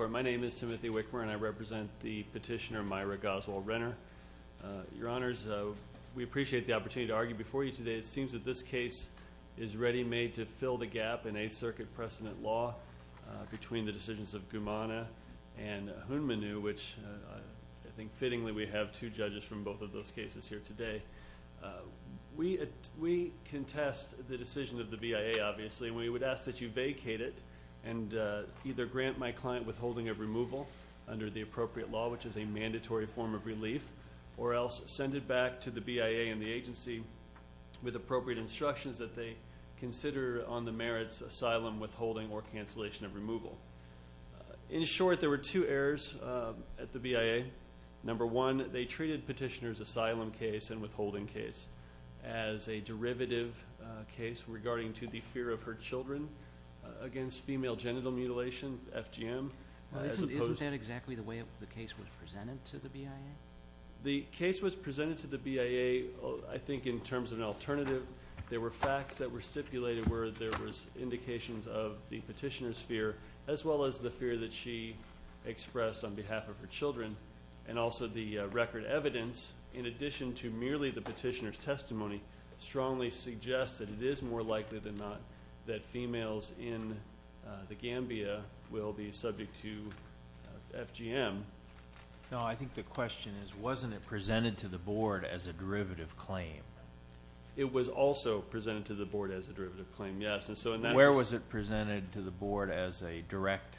My name is Timothy Wickmer, and I represent the petitioner Myra Goswell-Renner. Your Honors, we appreciate the opportunity to argue before you today. It seems that this case is ready-made to fill the gap in Eighth Circuit precedent law between the decisions of Gumana and Hunminoo, which I think fittingly we have two judges from both of those cases here today. We contest the decision of the BIA, obviously, and we would ask that you vacate it and either grant my client withholding of removal under the appropriate law, which is a mandatory form of relief, or else send it back to the BIA and the agency with appropriate instructions that they consider on the merits asylum, withholding, or cancellation of removal. In short, there were two errors at the BIA. Number one, they treated petitioner's asylum case and withholding case as a derivative case regarding to the fear of her children against female genital mutilation, FGM. Isn't that exactly the way the case was presented to the BIA? The case was presented to the BIA, I think, in terms of an alternative. There were facts that were stipulated where there was indications of the petitioner's fear, as well as the fear that she expressed on behalf of her children, and also the record evidence, in addition to merely the petitioner's testimony, strongly suggests that it is more likely than not that females in the Gambia will be subject to FGM. No, I think the question is, wasn't it presented to the Board as a derivative claim? It was also presented to the Board as a derivative claim, yes. Where was it presented to the Board as a direct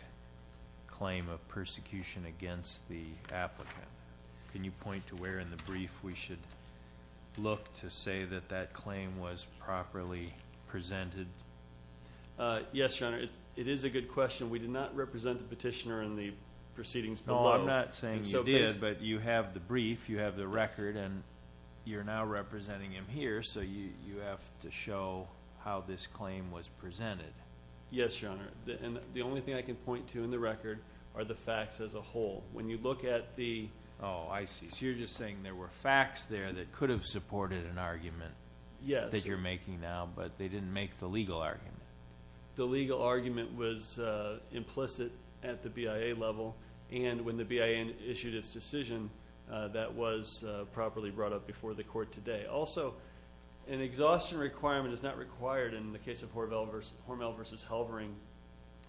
claim of persecution against the applicant? Can you point to where in the brief we should look to say that that claim was properly presented? Yes, Your Honor, it is a good question. We did not represent the petitioner in the proceedings below. No, I'm not saying you did, but you have the brief, you have the record, and you're now representing him here, so you have to show how this claim was presented. Yes, Your Honor, and the only thing I can point to in the record are the facts as a whole. Oh, I see. So you're just saying there were facts there that could have supported an argument that you're making now, but they didn't make the legal argument. The legal argument was implicit at the BIA level, and when the BIA issued its decision, that was properly brought up before the Court today. Also, an exhaustion requirement is not required in the case of Hormel v. Halvering.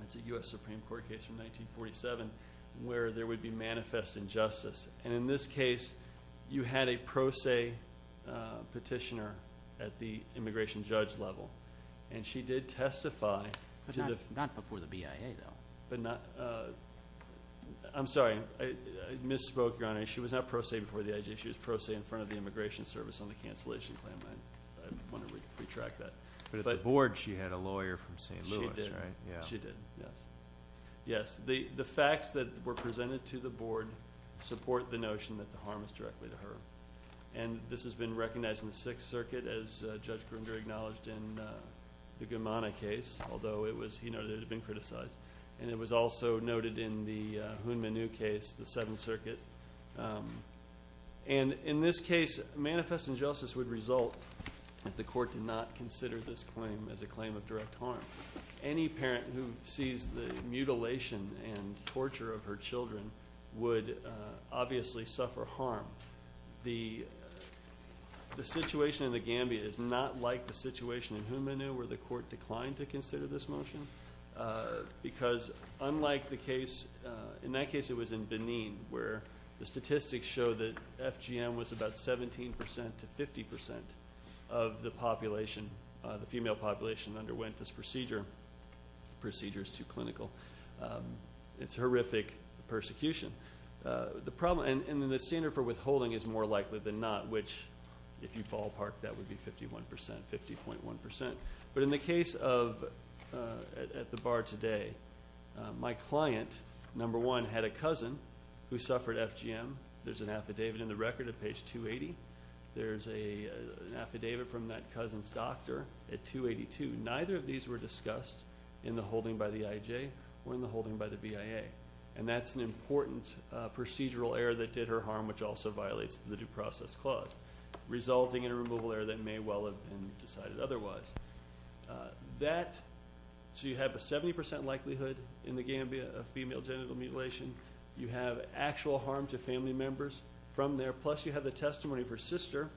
That's a U.S. Supreme Court case from 1947 where there would be manifest injustice, and in this case, you had a pro se petitioner at the immigration judge level, and she did testify. But not before the BIA, though. I'm sorry, I misspoke, Your Honor. She was not pro se before the IJ. She was pro se in front of the Immigration Service on the cancellation claim. I wonder if we could retract that. But at the Board, she had a lawyer from St. Louis, right? She did. She did, yes. Yes, the facts that were presented to the Board support the notion that the harm is directly to her, and this has been recognized in the Sixth Circuit, as Judge Grimger acknowledged in the Gamana case, although he noted it had been criticized, and it was also noted in the Huynh-Minhu case, the Seventh Circuit. And in this case, manifest injustice would result if the court did not consider this claim as a claim of direct harm. Any parent who sees the mutilation and torture of her children would obviously suffer harm. The situation in the Gambia is not like the situation in Huynh-Minhu where the court declined to consider this motion, because unlike the case, in that case it was in Benin, where the statistics show that FGM was about 17% to 50% of the population. The female population underwent this procedure. The procedure is too clinical. It's horrific persecution. And the standard for withholding is more likely than not, which if you ballpark, that would be 51%, 50.1%. But in the case of at the bar today, my client, number one, had a cousin who suffered FGM. There's an affidavit in the record at page 280. There's an affidavit from that cousin's doctor at 282. Neither of these were discussed in the holding by the IJ or in the holding by the BIA, and that's an important procedural error that did her harm, which also violates the Due Process Clause, resulting in a removal error that may well have been decided otherwise. That, so you have a 70% likelihood in the Gambia of female genital mutilation. You have actual harm to family members from there, plus you have the testimony of her sister,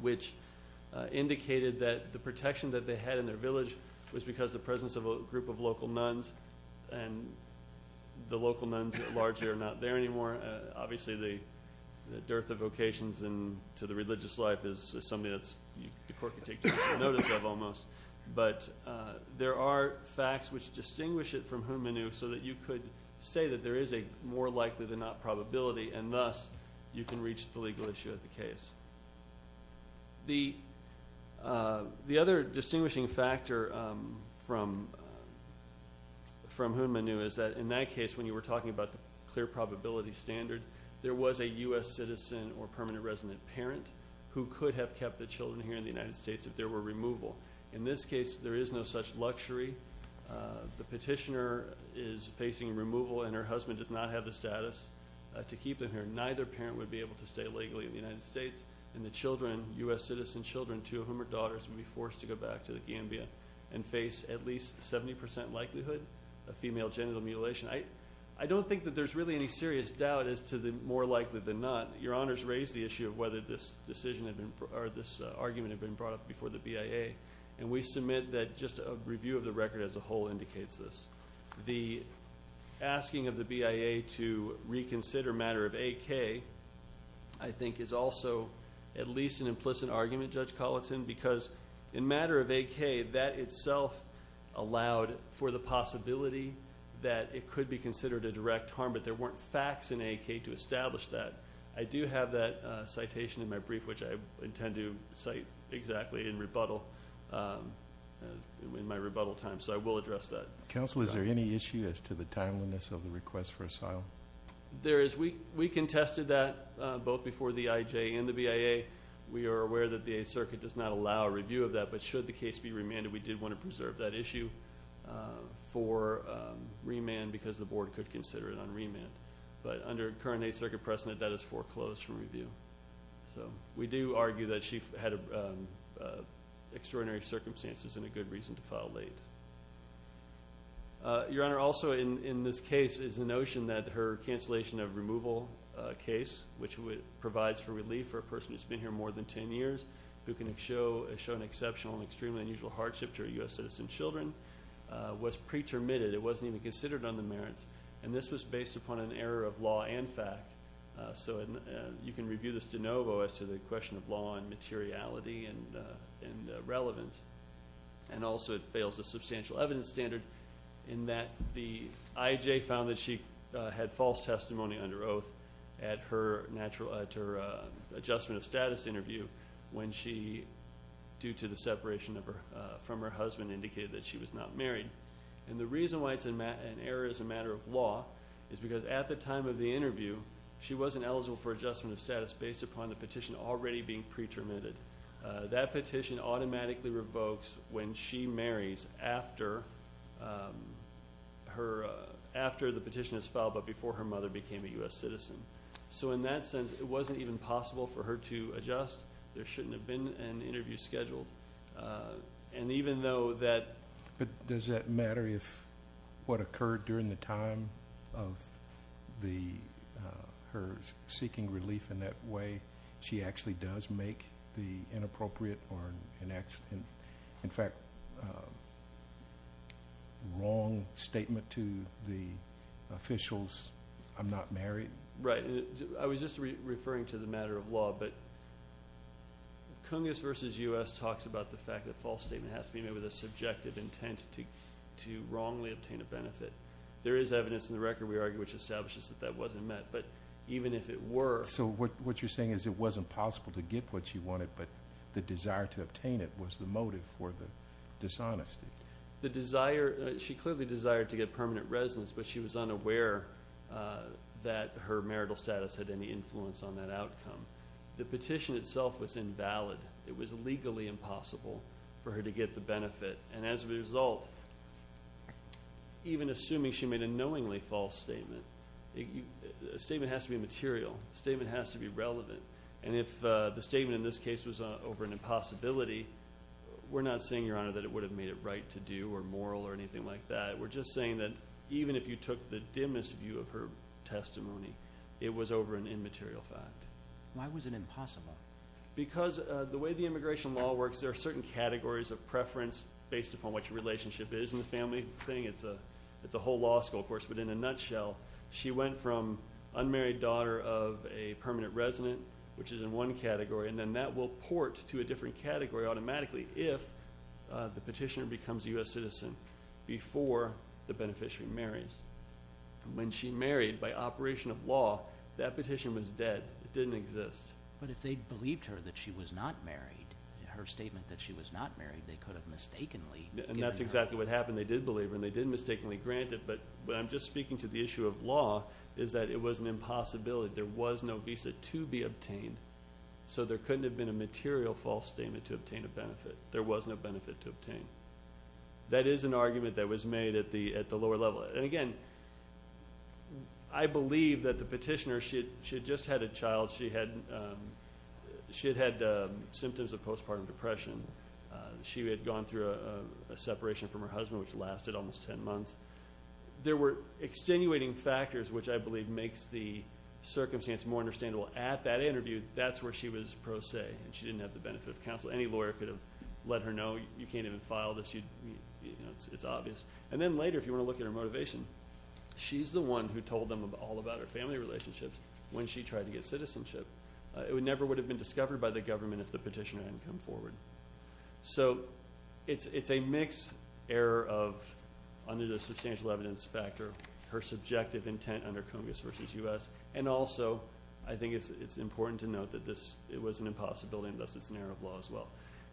which indicated that the protection that they had in their village was because of the presence of a group of local nuns, and the local nuns largely are not there anymore. Obviously, the dearth of vocations to the religious life is something that the court can take general notice of almost. But there are facts which distinguish it from Hunmanu so that you could say that there is a more likely than not probability, and thus you can reach the legal issue of the case. The other distinguishing factor from Hunmanu is that in that case, when you were talking about the clear probability standard, there was a U.S. citizen or permanent resident parent who could have kept the children here in the United States if there were removal. In this case, there is no such luxury. The petitioner is facing removal, and her husband does not have the status to keep them here. Neither parent would be able to stay legally in the United States, and the children, U.S. citizen children, two of whom are daughters, would be forced to go back to the Gambia and face at least 70% likelihood of female genital mutilation. I don't think that there's really any serious doubt as to the more likely than not. Your Honors raised the issue of whether this argument had been brought up before the BIA, and we submit that just a review of the record as a whole indicates this. The asking of the BIA to reconsider matter of AK, I think, is also at least an implicit argument, Judge Colleton, because in matter of AK, that itself allowed for the possibility that it could be considered a direct harm, but there weren't facts in AK to establish that. I do have that citation in my brief, which I intend to cite exactly in rebuttal, in my rebuttal time, so I will address that. Counsel, is there any issue as to the timeliness of the request for asylum? There is. We contested that both before the IJ and the BIA. We are aware that the Eighth Circuit does not allow a review of that, but should the case be remanded, we did want to preserve that issue for remand because the Board could consider it on remand. But under current Eighth Circuit precedent, that is foreclosed from review. We do argue that she had extraordinary circumstances and a good reason to file late. Your Honor, also in this case is the notion that her cancellation of removal case, which provides for relief for a person who has been here more than ten years, who can show an exceptional and extremely unusual hardship to her U.S. citizen children, was pre-termitted. It wasn't even considered on the merits, and this was based upon an error of law and fact. So you can review this de novo as to the question of law and materiality and relevance. And also it fails the substantial evidence standard in that the IJ found that she had false testimony under oath at her adjustment of status interview when she, due to the separation from her husband, indicated that she was not married. And the reason why it's an error as a matter of law is because at the time of the interview, she wasn't eligible for adjustment of status based upon the petition already being pre-termitted. That petition automatically revokes when she marries after the petition is filed, but before her mother became a U.S. citizen. So in that sense, it wasn't even possible for her to adjust. There shouldn't have been an interview scheduled. And even though that. But does that matter if what occurred during the time of her seeking relief in that way, she actually does make the inappropriate or, in fact, wrong statement to the officials, I'm not married? Right. I was just referring to the matter of law, but Cungus versus U.S. talks about the fact that false statement has to be made with a subjective intent to wrongly obtain a benefit. There is evidence in the record, we argue, which establishes that that wasn't met. But even if it were. So what you're saying is it wasn't possible to get what she wanted, but the desire to obtain it was the motive for the dishonesty. The desire, she clearly desired to get permanent residence, but she was unaware that her marital status had any influence on that outcome. The petition itself was invalid. It was legally impossible for her to get the benefit. And as a result, even assuming she made a knowingly false statement, a statement has to be material. A statement has to be relevant. And if the statement in this case was over an impossibility, we're not saying, Your Honor, that it would have made it right to do or moral or anything like that. We're just saying that even if you took the dimmest view of her testimony, it was over an immaterial fact. Why was it impossible? Because the way the immigration law works, there are certain categories of preference based upon what your relationship is in the family thing. It's a whole law school, of course, but in a nutshell, she went from unmarried daughter of a permanent resident, which is in one category, and then that will port to a different category automatically if the petitioner becomes a U.S. citizen before the beneficiary marries. When she married, by operation of law, that petition was dead. It didn't exist. But if they believed her that she was not married, her statement that she was not married, they could have mistakenly given her. And that's exactly what happened. They did believe her and they did mistakenly grant it. But I'm just speaking to the issue of law is that it was an impossibility. There was no visa to be obtained. So there couldn't have been a material false statement to obtain a benefit. There was no benefit to obtain. That is an argument that was made at the lower level. And, again, I believe that the petitioner, she had just had a child. She had had symptoms of postpartum depression. She had gone through a separation from her husband, which lasted almost 10 months. There were extenuating factors, which I believe makes the circumstance more understandable. At that interview, that's where she was pro se, and she didn't have the benefit of counsel. Any lawyer could have let her know, you can't even file this. It's obvious. And then later, if you want to look at her motivation, she's the one who told them all about her family relationships when she tried to get citizenship. It never would have been discovered by the government if the petitioner hadn't come forward. So it's a mixed error of, under the substantial evidence factor, her subjective intent under Congress versus U.S., and also I think it's important to note that it was an impossibility, and thus it's an error of law as well.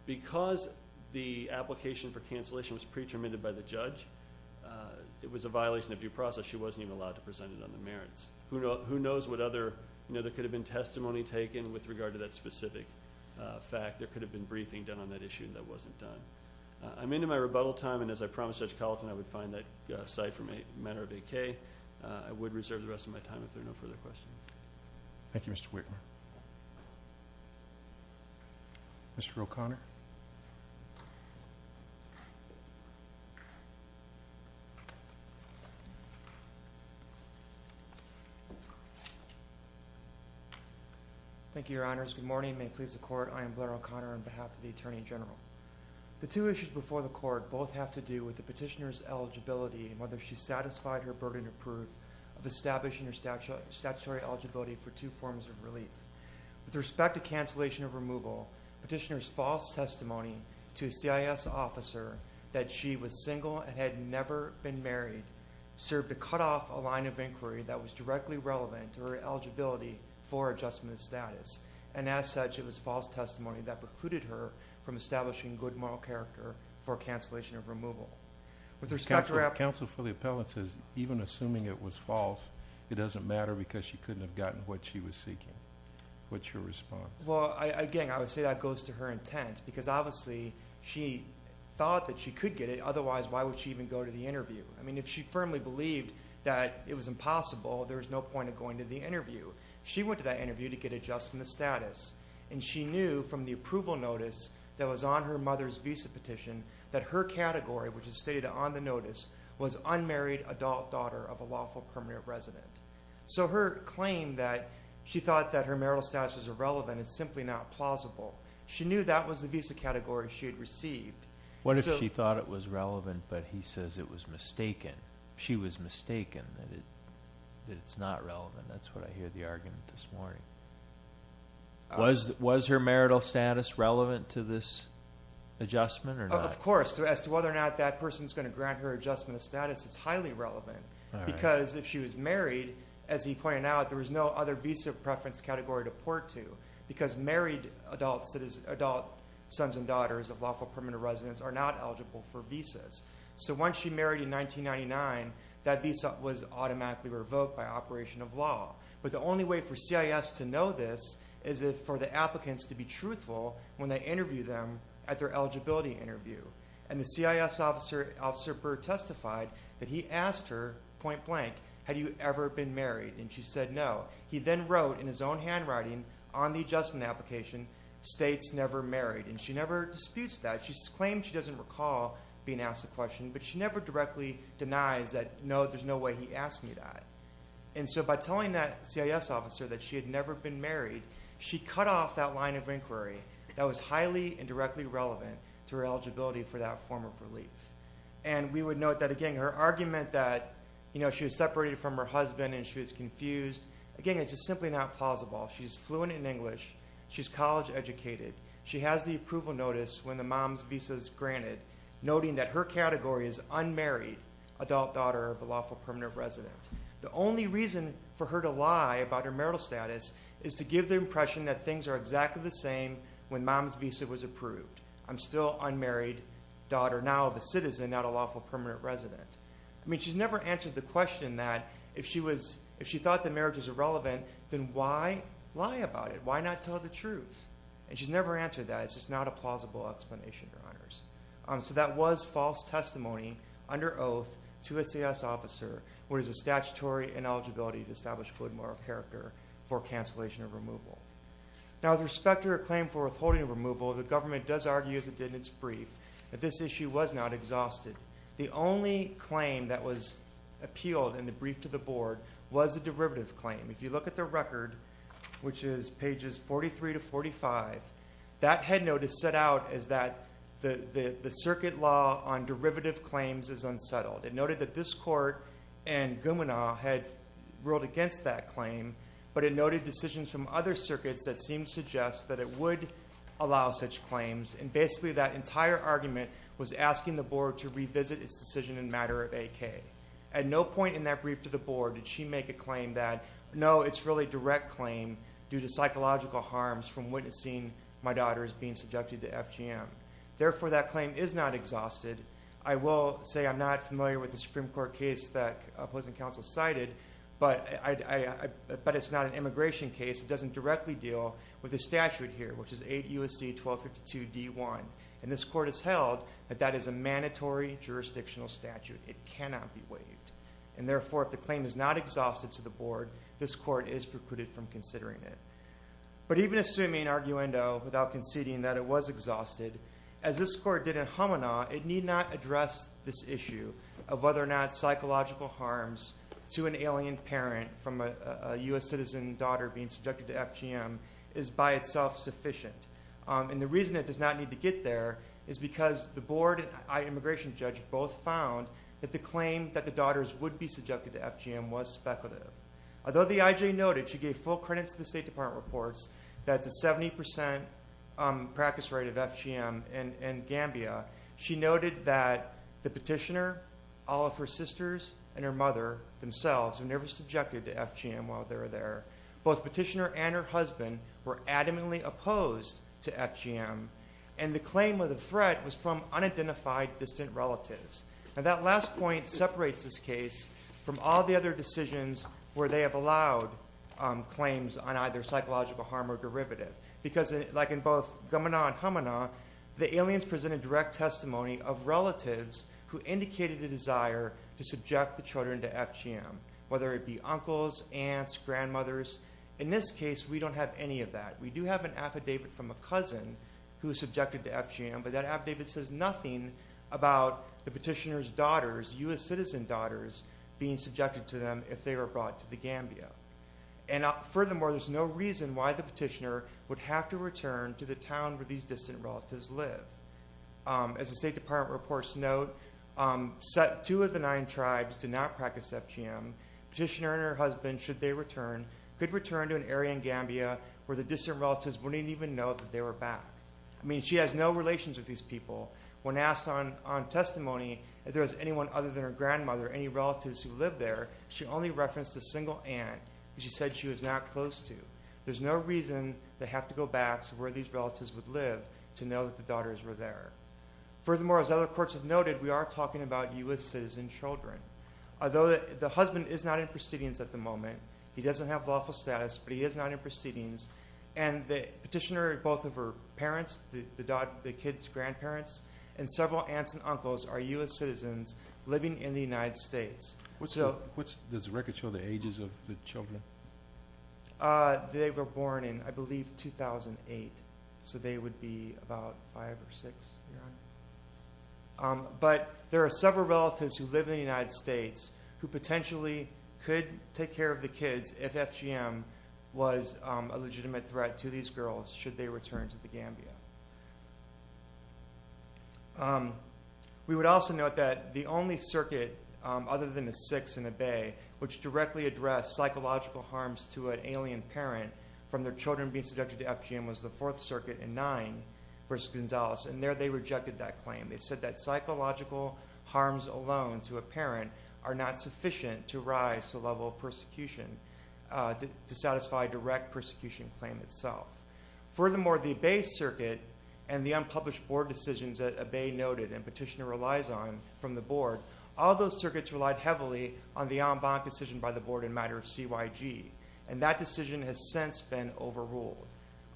Because the application for cancellation was pre-terminated by the judge, it was a violation of due process. She wasn't even allowed to present it on the merits. Who knows what other, you know, there could have been testimony taken with regard to that specific fact. There could have been briefing done on that issue, and that wasn't done. I'm into my rebuttal time, and as I promised Judge Colleton, I would find that aside from a matter of decay. I would reserve the rest of my time if there are no further questions. Thank you, Mr. Whitmer. Mr. O'Connor. Thank you, Your Honors. Good morning. May it please the Court. I am Blair O'Connor on behalf of the Attorney General. The two issues before the Court both have to do with the petitioner's eligibility and whether she satisfied her burden of proof of establishing her statutory eligibility for two forms of relief. With respect to cancellation of removal, petitioner's false testimony to a CIS officer that she was single and had never been married served to cut off a line of inquiry and, as such, it was false testimony that precluded her from establishing good moral character for cancellation of removal. Counsel for the appellant says even assuming it was false, it doesn't matter because she couldn't have gotten what she was seeking. What's your response? Well, again, I would say that goes to her intent because, obviously, she thought that she could get it. Otherwise, why would she even go to the interview? I mean, if she firmly believed that it was impossible, there was no point of going to the interview. She went to that interview to get adjustment of status, and she knew from the approval notice that was on her mother's visa petition that her category, which is stated on the notice, was unmarried adult daughter of a lawful permanent resident. So her claim that she thought that her marital status was irrelevant is simply not plausible. She knew that was the visa category she had received. What if she thought it was relevant, but he says it was mistaken? She was mistaken, that it's not relevant. That's what I hear the argument this morning. Was her marital status relevant to this adjustment or not? Of course. As to whether or not that person is going to grant her adjustment of status, it's highly relevant because if she was married, as he pointed out, there was no other visa preference category to port to because married adult sons and daughters of lawful permanent residents are not eligible for visas. So once she married in 1999, that visa was automatically revoked by operation of law. But the only way for CIS to know this is for the applicants to be truthful when they interview them at their eligibility interview. And the CIS officer testified that he asked her point blank, had you ever been married, and she said no. He then wrote in his own handwriting on the adjustment application, states never married, and she never disputes that. She claims she doesn't recall being asked the question, but she never directly denies that, no, there's no way he asked me that. And so by telling that CIS officer that she had never been married, she cut off that line of inquiry that was highly and directly relevant to her eligibility for that form of relief. And we would note that, again, her argument that she was separated from her husband and she was confused, again, it's just simply not plausible. She's fluent in English. She's college educated. She has the approval notice when the mom's visa is granted, noting that her category is unmarried adult daughter of a lawful permanent resident. The only reason for her to lie about her marital status is to give the impression that things are exactly the same when mom's visa was approved. I'm still unmarried daughter now of a citizen, not a lawful permanent resident. I mean, she's never answered the question that if she thought the marriage was irrelevant, then why lie about it? Why not tell the truth? And she's never answered that. It's just not a plausible explanation, Your Honors. So that was false testimony under oath to a CIS officer where there's a statutory ineligibility to establish a code of moral character for cancellation of removal. Now, with respect to her claim for withholding removal, the government does argue, as it did in its brief, that this issue was not exhausted. The only claim that was appealed in the brief to the board was a derivative claim. If you look at the record, which is pages 43 to 45, that headnote is set out as that the circuit law on derivative claims is unsettled. It noted that this court and Gumina had ruled against that claim, but it noted decisions from other circuits that seemed to suggest that it would allow such claims, and basically that entire argument was asking the board to revisit its decision in a matter of AK. At no point in that brief to the board did she make a claim that, no, it's really a direct claim due to psychological harms from witnessing my daughter's being subjected to FGM. Therefore, that claim is not exhausted. I will say I'm not familiar with the Supreme Court case that opposing counsel cited, but it's not an immigration case. It doesn't directly deal with the statute here, which is 8 U.S.C. 1252 D.1. And this court has held that that is a mandatory jurisdictional statute. It cannot be waived. And therefore, if the claim is not exhausted to the board, this court is precluded from considering it. But even assuming arguendo without conceding that it was exhausted, as this court did in Humana, it need not address this issue of whether or not psychological harms to an alien parent from a U.S. citizen daughter being subjected to FGM is by itself sufficient. And the reason it does not need to get there is because the board and immigration judge both found that the claim that the daughters would be subjected to FGM was speculative. Although the I.J. noted she gave full credit to the State Department reports, that's a 70% practice rate of FGM in Gambia, she noted that the petitioner, all of her sisters, and her mother themselves were never subjected to FGM while they were there. Both petitioner and her husband were adamantly opposed to FGM, and the claim of the threat was from unidentified distant relatives. And that last point separates this case from all the other decisions where they have allowed claims on either psychological harm or derivative. Because like in both Gamana and Humana, the aliens presented direct testimony of relatives who indicated a desire to subject the children to FGM, whether it be uncles, aunts, grandmothers, in this case we don't have any of that. We do have an affidavit from a cousin who was subjected to FGM, but that affidavit says nothing about the petitioner's daughters, U.S. citizen daughters, being subjected to them if they were brought to the Gambia. And furthermore, there's no reason why the petitioner would have to return to the town where these distant relatives live. As the State Department reports note, two of the nine tribes did not practice FGM. Petitioner and her husband, should they return, could return to an area in Gambia where the distant relatives wouldn't even know that they were back. I mean, she has no relations with these people. When asked on testimony if there was anyone other than her grandmother, any relatives who lived there, she only referenced a single aunt, and she said she was not close to. There's no reason they have to go back to where these relatives would live to know that the daughters were there. Furthermore, as other courts have noted, we are talking about U.S. citizen children. Although the husband is not in proceedings at the moment. He doesn't have lawful status, but he is not in proceedings. And the petitioner, both of her parents, the kid's grandparents, and several aunts and uncles are U.S. citizens living in the United States. Does the record show the ages of the children? They were born in, I believe, 2008. So they would be about five or six. But there are several relatives who live in the United States who potentially could take care of the kids if FGM was a legitimate threat to these girls should they return to the Gambia. We would also note that the only circuit other than the six in the Bay which directly addressed psychological harms to an alien parent from their children being subjected to FGM was the Fourth Circuit in nine versus Gonzales, and there they rejected that claim. They said that psychological harms alone to a parent are not sufficient to rise the level of persecution to satisfy a direct persecution claim itself. Furthermore, the Bay Circuit and the unpublished board decisions that a Bay noted and petitioner relies on from the board, all those circuits relied heavily on the en banc decision by the board in matter of CYG. And that decision has since been overruled.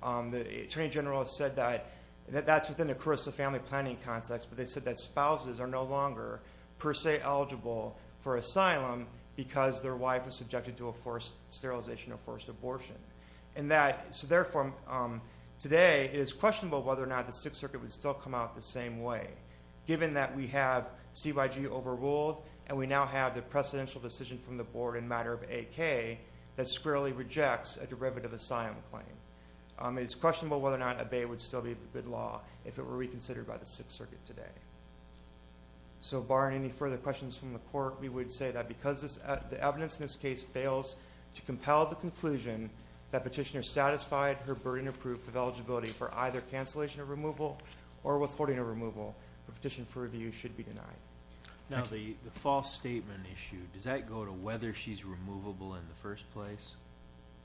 The attorney general has said that that's within the family planning context, but they said that spouses are no longer per se eligible for asylum because their wife was subjected to a forced sterilization or forced abortion. So therefore, today it is questionable whether or not the Sixth Circuit would still come out the same way, given that we have CYG overruled and we now have the precedential decision from the board in matter of AK that squarely rejects a derivative asylum claim. It's questionable whether or not a Bay would still be a good law if it were reconsidered by the Sixth Circuit today. So barring any further questions from the court, we would say that because the evidence in this case fails to compel the conclusion that petitioner satisfied her burden of proof of eligibility for either cancellation of removal or withholding of removal, the petition for review should be denied. Now, the false statement issue, does that go to whether she's removable in the first place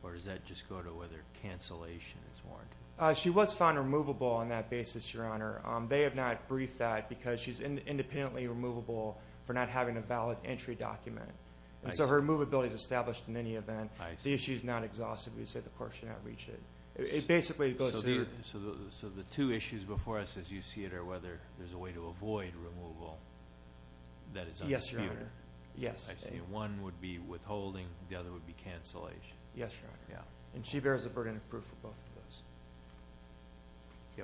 or does that just go to whether cancellation is warranted? She was found removable on that basis, Your Honor. They have not briefed that because she's independently removable for not having a valid entry document. And so her movability is established in any event. The issue is not exhaustive. We would say the court should not reach it. It basically goes to the— Yes, Your Honor. I see. One would be withholding, the other would be cancellation. Yes, Your Honor. And she bears the burden of proof for both of those.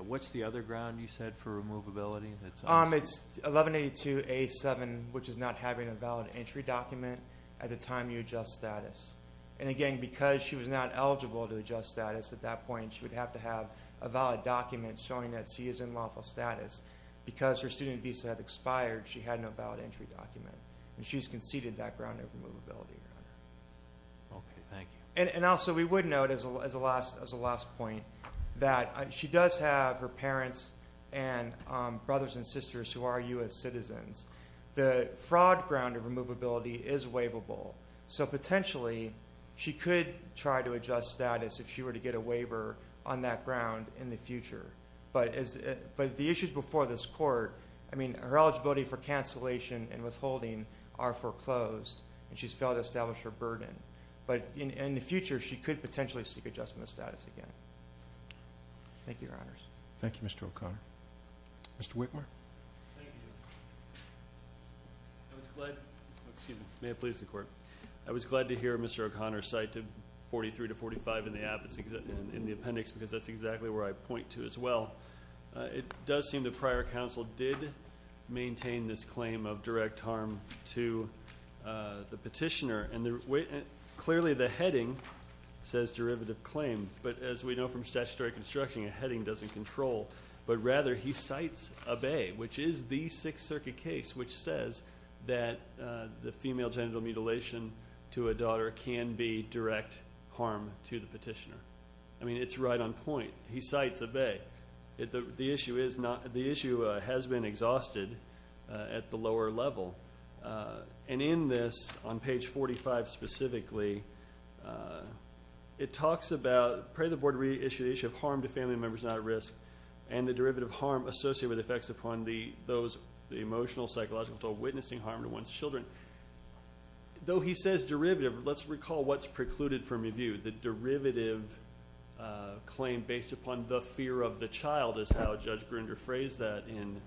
What's the other ground you said for removability? It's 1182A7, which is not having a valid entry document at the time you adjust status. And again, because she was not eligible to adjust status at that point, she would have to have a valid document showing that she is in lawful status. Because her student visa had expired, she had no valid entry document. And she's conceded that ground of removability, Your Honor. Okay, thank you. And also we would note as a last point that she does have her parents and brothers and sisters who are U.S. citizens. The fraud ground of removability is waivable. So potentially she could try to adjust status if she were to get a waiver on that ground in the future. But the issues before this court, I mean, her eligibility for cancellation and withholding are foreclosed, and she's failed to establish her burden. But in the future, she could potentially seek adjustment of status again. Thank you, Your Honors. Thank you, Mr. O'Connor. Mr. Whitmer. Thank you. I was glad to hear Mr. O'Connor cite 43 to 45 in the appendix because that's exactly where I point to as well. It does seem that prior counsel did maintain this claim of direct harm to the petitioner. And clearly the heading says derivative claim. But as we know from statutory construction, a heading doesn't control. But rather he cites a bae, which is the Sixth Circuit case, which says that the female genital mutilation to a daughter can be direct harm to the petitioner. I mean, it's right on point. He cites a bae. The issue has been exhausted at the lower level. And in this, on page 45 specifically, it talks about, pray the board reissue the issue of harm to family members not at risk and the derivative harm associated with effects upon those emotional, psychological, or witnessing harm to one's children. Though he says derivative, let's recall what's precluded from review. The derivative claim based upon the fear of the child is how Judge Grinder phrased that in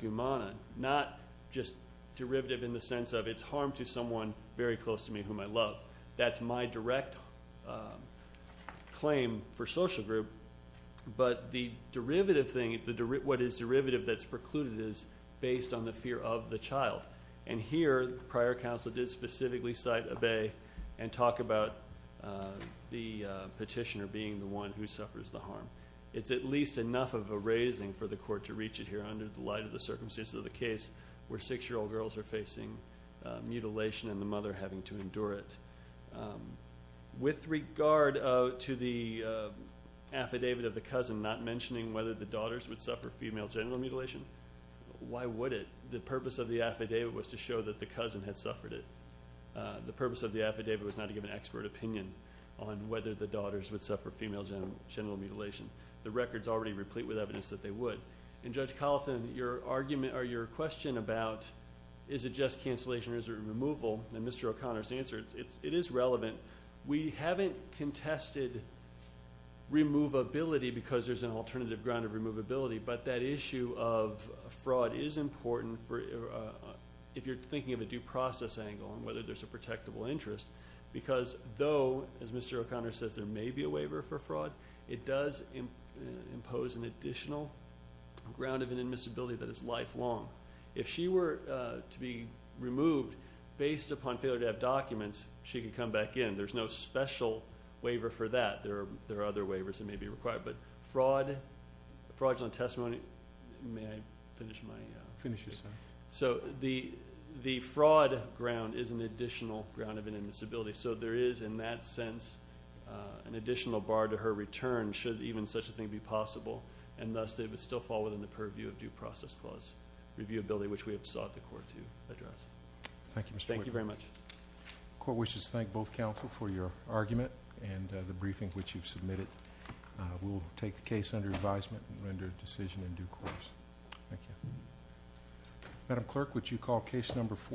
Gumana. Not just derivative in the sense of it's harm to someone very close to me whom I love. That's my direct claim for social group. But the derivative thing, what is derivative that's precluded is based on the fear of the child. And here, prior counsel did specifically cite a bae and talk about the petitioner being the one who suffers the harm. It's at least enough of a raising for the court to reach it here under the light of the circumstances of the case where six-year-old girls are facing mutilation and the mother having to endure it. With regard to the affidavit of the cousin not mentioning whether the daughters would suffer female genital mutilation, why would it? The purpose of the affidavit was to show that the cousin had suffered it. The purpose of the affidavit was not to give an expert opinion on whether the daughters would suffer female genital mutilation. The record's already replete with evidence that they would. And Judge Colleton, your argument or your question about is it just cancellation or is it removal, and Mr. O'Connor's answer, it is relevant. We haven't contested removability because there's an alternative ground of removability, but that issue of fraud is important if you're thinking of a due process angle and whether there's a protectable interest because though, as Mr. O'Connor says, there may be a waiver for fraud, it does impose an additional ground of inadmissibility that is lifelong. If she were to be removed based upon failure to have documents, she could come back in. There's no special waiver for that. There are other waivers that may be required. But fraud, fraudulent testimony, may I finish my? Finish your sentence. So the fraud ground is an additional ground of inadmissibility. So there is in that sense an additional bar to her return should even such a thing be possible, and thus it would still fall within the purview of due process clause reviewability, which we have sought the court to address. Thank you, Mr. Whitman. Thank you very much. The court wishes to thank both counsel for your argument and the briefing which you've submitted. We'll take the case under advisement and render a decision in due course. Thank you. Madam Clerk, would you call case number four?